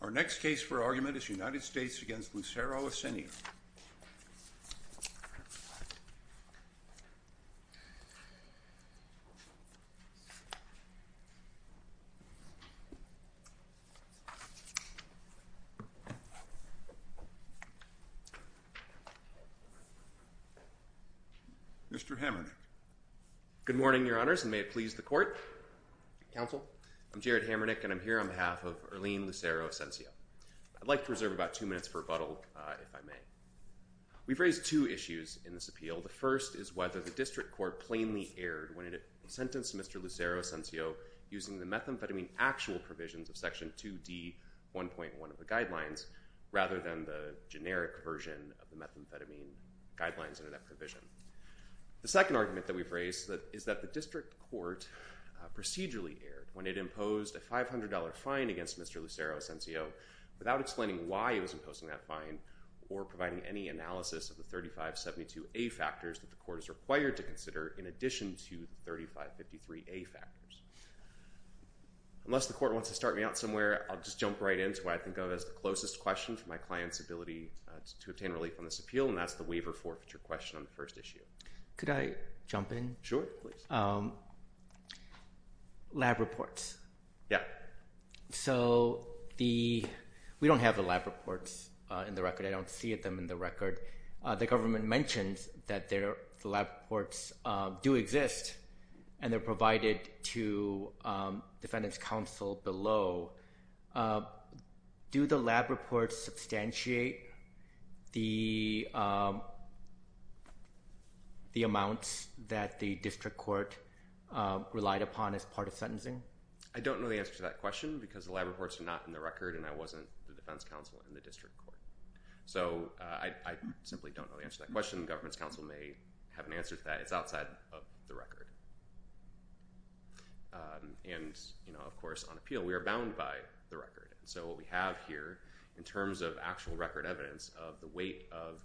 Our next case for argument is United States v. Lucero-Asencio Mr. Hamernick Good morning, Your Honors, and may it please the Court Counsel I'm Jared Hamernick, and I'm here on behalf of Erlin Lucero-Asencio I'd like to reserve about two minutes for rebuttal, if I may We've raised two issues in this appeal The first is whether the District Court plainly erred when it sentenced Mr. Lucero-Asencio using the methamphetamine actual provisions of Section 2D, 1.1 of the Guidelines rather than the generic version of the methamphetamine guidelines under that provision The second argument that we've raised is that the District Court procedurally erred when it imposed a $500 fine against Mr. Lucero-Asencio without explaining why it was imposing that fine or providing any analysis of the 3572A factors that the Court is required to consider in addition to the 3553A factors Unless the Court wants to start me out somewhere, I'll just jump right in to what I think of as the closest question to my client's ability to obtain relief on this appeal and that's the waiver forfeiture question on the first issue Could I jump in? Sure, please Lab reports Yeah So, we don't have the lab reports in the record, I don't see them in the record The government mentions that the lab reports do exist and they're provided to defendants' counsel below Do the lab reports substantiate the amounts that the District Court relied upon as part of sentencing? I don't know the answer to that question because the lab reports are not in the record and I wasn't the defense counsel in the District Court So, I simply don't know the answer to that question The government's counsel may have an answer to that, it's outside of the record And of course, on appeal, we are bound by the record So, what we have here in terms of actual record evidence of the weight of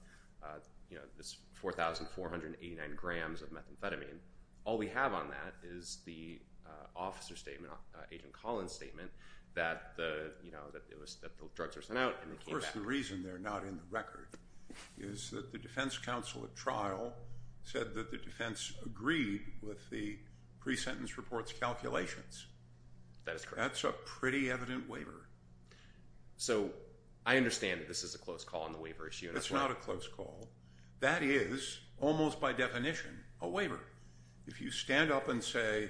this 4,489 grams of methamphetamine All we have on that is the officer's statement, Agent Collins' statement that the drugs were sent out and they came back Of course, the reason they're not in the record is that the defense counsel at trial said that the defense agreed with the pre-sentence report's calculations That's a pretty evident waiver So, I understand that this is a close call on the waiver issue It's not a close call That is, almost by definition, a waiver If you stand up and say,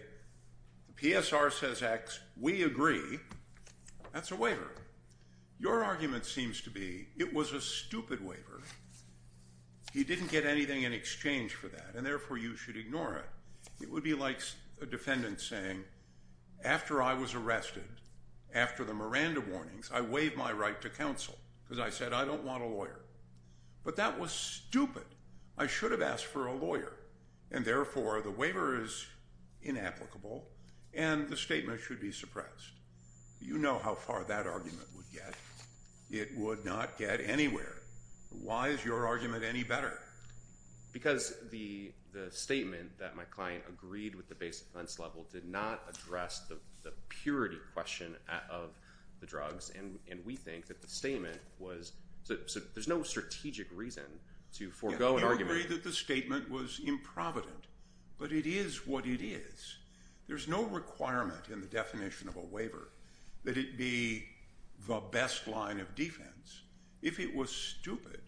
PSR says X, we agree, that's a waiver Your argument seems to be, it was a stupid waiver You didn't get anything in exchange for that, and therefore you should ignore it It would be like a defendant saying, after I was arrested, after the Miranda warnings I waive my right to counsel, because I said I don't want a lawyer But that was stupid, I should have asked for a lawyer And therefore, the waiver is inapplicable, and the statement should be suppressed You know how far that argument would get It would not get anywhere Why is your argument any better? Because the statement that my client agreed with the basic defense level did not address the purity question of the drugs And we think that the statement was, there's no strategic reason to forego an argument We agree that the statement was improvident, but it is what it is There's no requirement in the definition of a waiver that it be the best line of defense If it was stupid,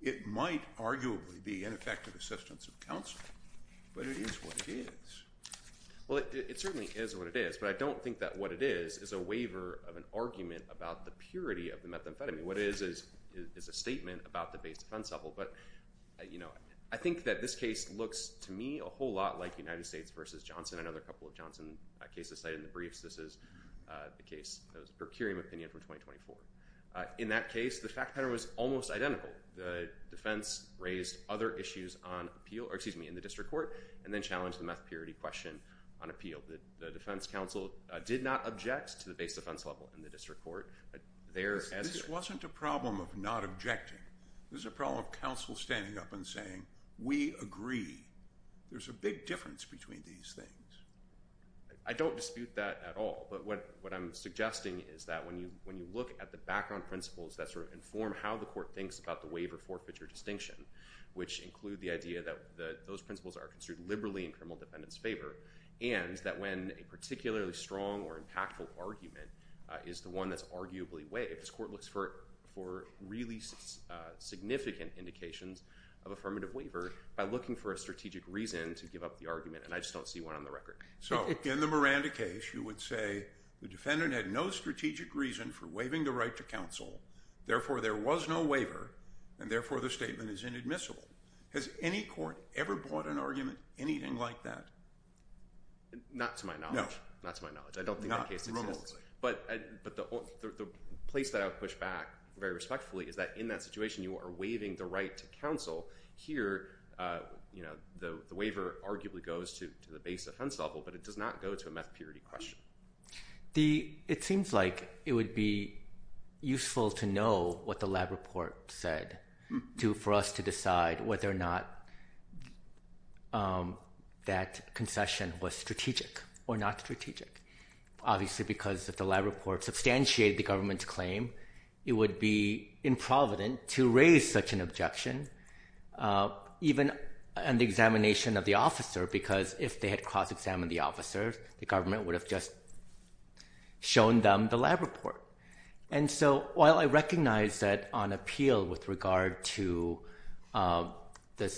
it might arguably be ineffective assistance of counsel But it is what it is Well, it certainly is what it is, but I don't think that what it is is a waiver of an argument about the purity of the methamphetamine What it is, is a statement about the basic defense level I think that this case looks, to me, a whole lot like United States v. Johnson I know there are a couple of Johnson cases cited in the briefs This is the case, the Percurium opinion from 2024 In that case, the fact pattern was almost identical The defense raised other issues in the district court and then challenged the meth purity question on appeal The defense counsel did not object to the basic defense level in the district court This wasn't a problem of not objecting This was a problem of counsel standing up and saying, we agree There's a big difference between these things I don't dispute that at all But what I'm suggesting is that when you look at the background principles that sort of inform how the court thinks about the waiver-forfeiture distinction which include the idea that those principles are construed liberally in criminal defendants' favor and that when a particularly strong or impactful argument is the one that's arguably waived this court looks for really significant indications of affirmative waiver by looking for a strategic reason to give up the argument and I just don't see one on the record So, in the Miranda case, you would say the defendant had no strategic reason for waiving the right to counsel therefore there was no waiver and therefore the statement is inadmissible Has any court ever brought an argument, anything like that? Not to my knowledge I don't think that case exists But the place that I would push back very respectfully is that in that situation you are waiving the right to counsel Here, the waiver arguably goes to the base offense level but it does not go to a meth purity question It seems like it would be useful to know what the lab report said for us to decide whether or not that concession was strategic or not strategic Obviously because if the lab report substantiated the government's claim it would be improvident to raise such an objection even on the examination of the officer because if they had cross-examined the officer the government would have just shown them the lab report And so, while I recognize that on appeal with regard to the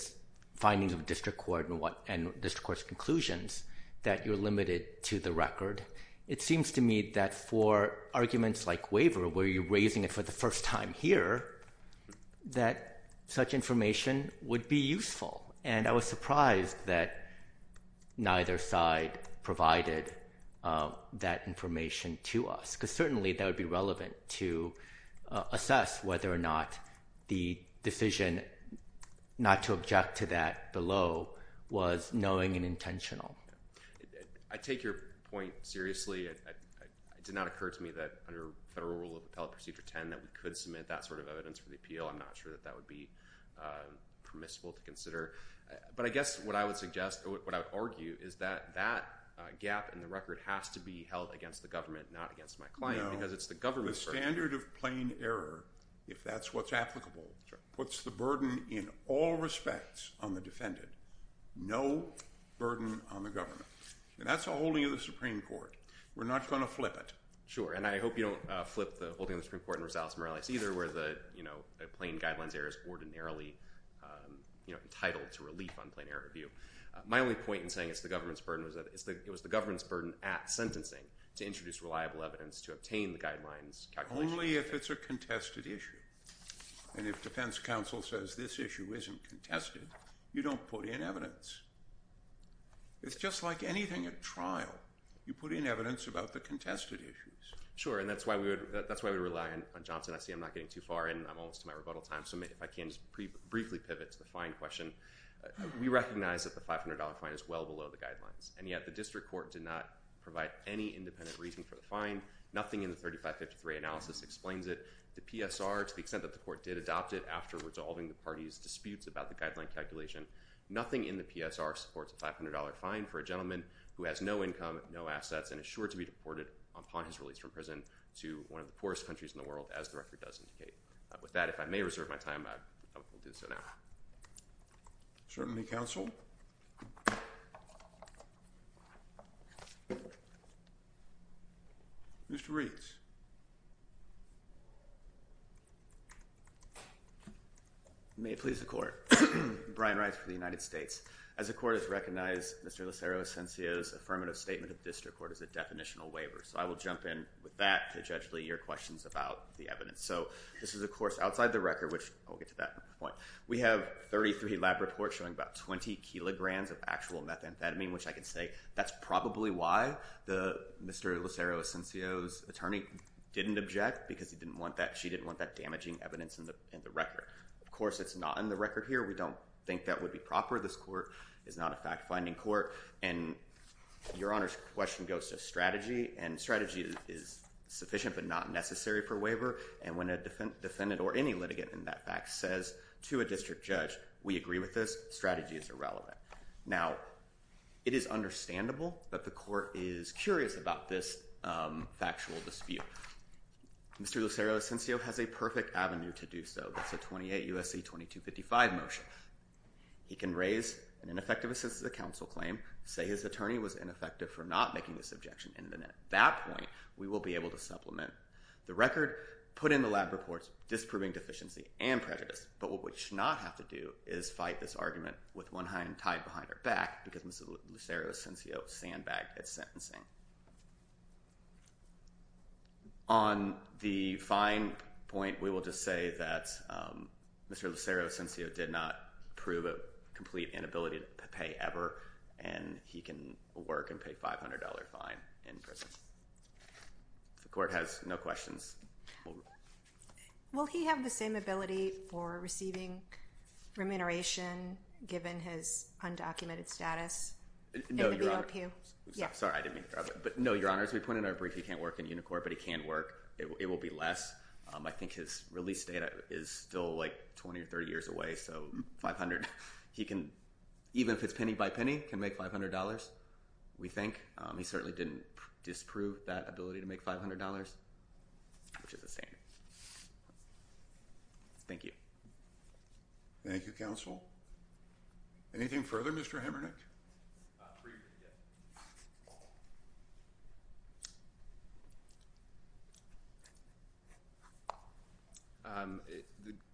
findings of district court and district court's conclusions that you're limited to the record it seems to me that for arguments like waiver where you're raising it for the first time here that such information would be useful and I was surprised that neither side provided that information to us because certainly that would be relevant to assess whether or not the decision not to object to that below was knowing and intentional I take your point seriously It did not occur to me that under Federal Rule of Appellate Procedure 10 that we could submit that sort of evidence for the appeal I'm not sure that that would be permissible to consider But I guess what I would suggest, what I would argue is that that gap in the record has to be held against the government not against my client because it's the government's record No, the standard of plain error, if that's what's applicable puts the burden in all respects on the defendant no burden on the government And that's a holding of the Supreme Court We're not going to flip it Sure, and I hope you don't flip the holding of the Supreme Court in Rosales-Morales either where the plain guidelines error is ordinarily entitled to relief on plain error review My only point in saying it's the government's burden is that it was the government's burden at sentencing to introduce reliable evidence to obtain the guidelines Only if it's a contested issue And if defense counsel says this issue isn't contested you don't put in evidence It's just like anything at trial You put in evidence about the contested issues Sure, and that's why we rely on Johnson SC I'm not getting too far and I'm almost to my rebuttal time so if I can just briefly pivot to the fine question We recognize that the $500 fine is well below the guidelines and yet the district court did not provide any independent reason for the fine Nothing in the 3553 analysis explains it The PSR, to the extent that the court did adopt it after resolving the party's disputes about the guideline calculation Nothing in the PSR supports a $500 fine for a gentleman who has no income, no assets and is sure to be deported upon his release from prison to one of the poorest countries in the world as the record does indicate With that, if I may reserve my time, I will do so now Certainty counsel Mr. Rees May it please the court Brian Reis for the United States As the court has recognized Mr. Lucero Asensio's affirmative statement of district court as a definitional waiver So I will jump in with that to judge your questions about the evidence So this is of course outside the record which I'll get to that point We have 33 lab reports showing about 20 kilograms of actual methamphetamine which I can say that's probably why Mr. Lucero Asensio's attorney didn't object because he didn't want that She didn't want that damaging evidence in the record Of course, it's not in the record here We don't think that would be proper This court is not a fact-finding court And your honor's question goes to strategy And strategy is sufficient but not necessary for waiver And when a defendant or any litigant in that fact says to a district judge We agree with this, strategy is irrelevant Now, it is understandable that the court is curious about this factual dispute Mr. Lucero Asensio has a perfect avenue to do so That's a 28 U.S.C. 2255 motion He can raise an ineffective assent to the counsel claim Say his attorney was ineffective for not making this objection And at that point, we will be able to supplement the record Put in the lab reports disproving deficiency and prejudice But what we should not have to do is fight this argument with one hand tied behind our back Because Mr. Lucero Asensio sandbagged at sentencing On the fine point, we will just say that Mr. Lucero Asensio did not prove a complete inability to pay ever And he can work and pay a $500 fine in prison If the court has no questions Will he have the same ability for receiving remuneration Given his undocumented status No, Your Honor Sorry, I didn't mean to interrupt But no, Your Honor, as we put in our brief He can't work in Unicor, but he can work It will be less I think his release date is still like 20 or 30 years away So, $500, he can, even if it's penny by penny Can make $500, we think He certainly didn't disprove that ability to make $500 Which is the same Thank you Thank you, Counsel Anything further, Mr. Hamernick?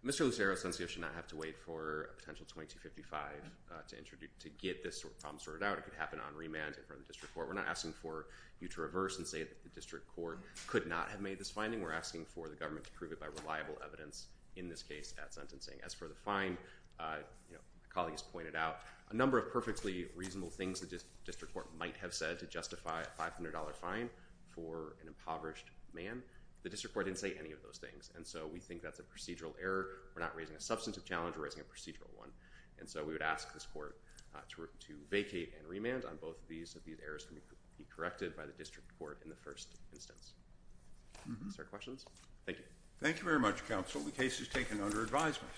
Mr. Lucero Asensio should not have to wait for a potential 2255 To get this problem sorted out It could happen on remand in front of the district court We're not asking for you to reverse and say that the district court Could not have made this finding We're asking for the government to prove it by reliable evidence In this case at sentencing As for the fine, my colleagues pointed out A number of perfectly reasonable things the district court might have said To justify a $500 fine for an impoverished man The district court didn't say any of those things And so we think that's a procedural error We're not raising a substantive challenge We're raising a procedural one And so we would ask this court to vacate and remand on both of these If these errors can be corrected by the district court in the first instance Is there questions? Thank you Thank you very much, counsel The case is taken under advisement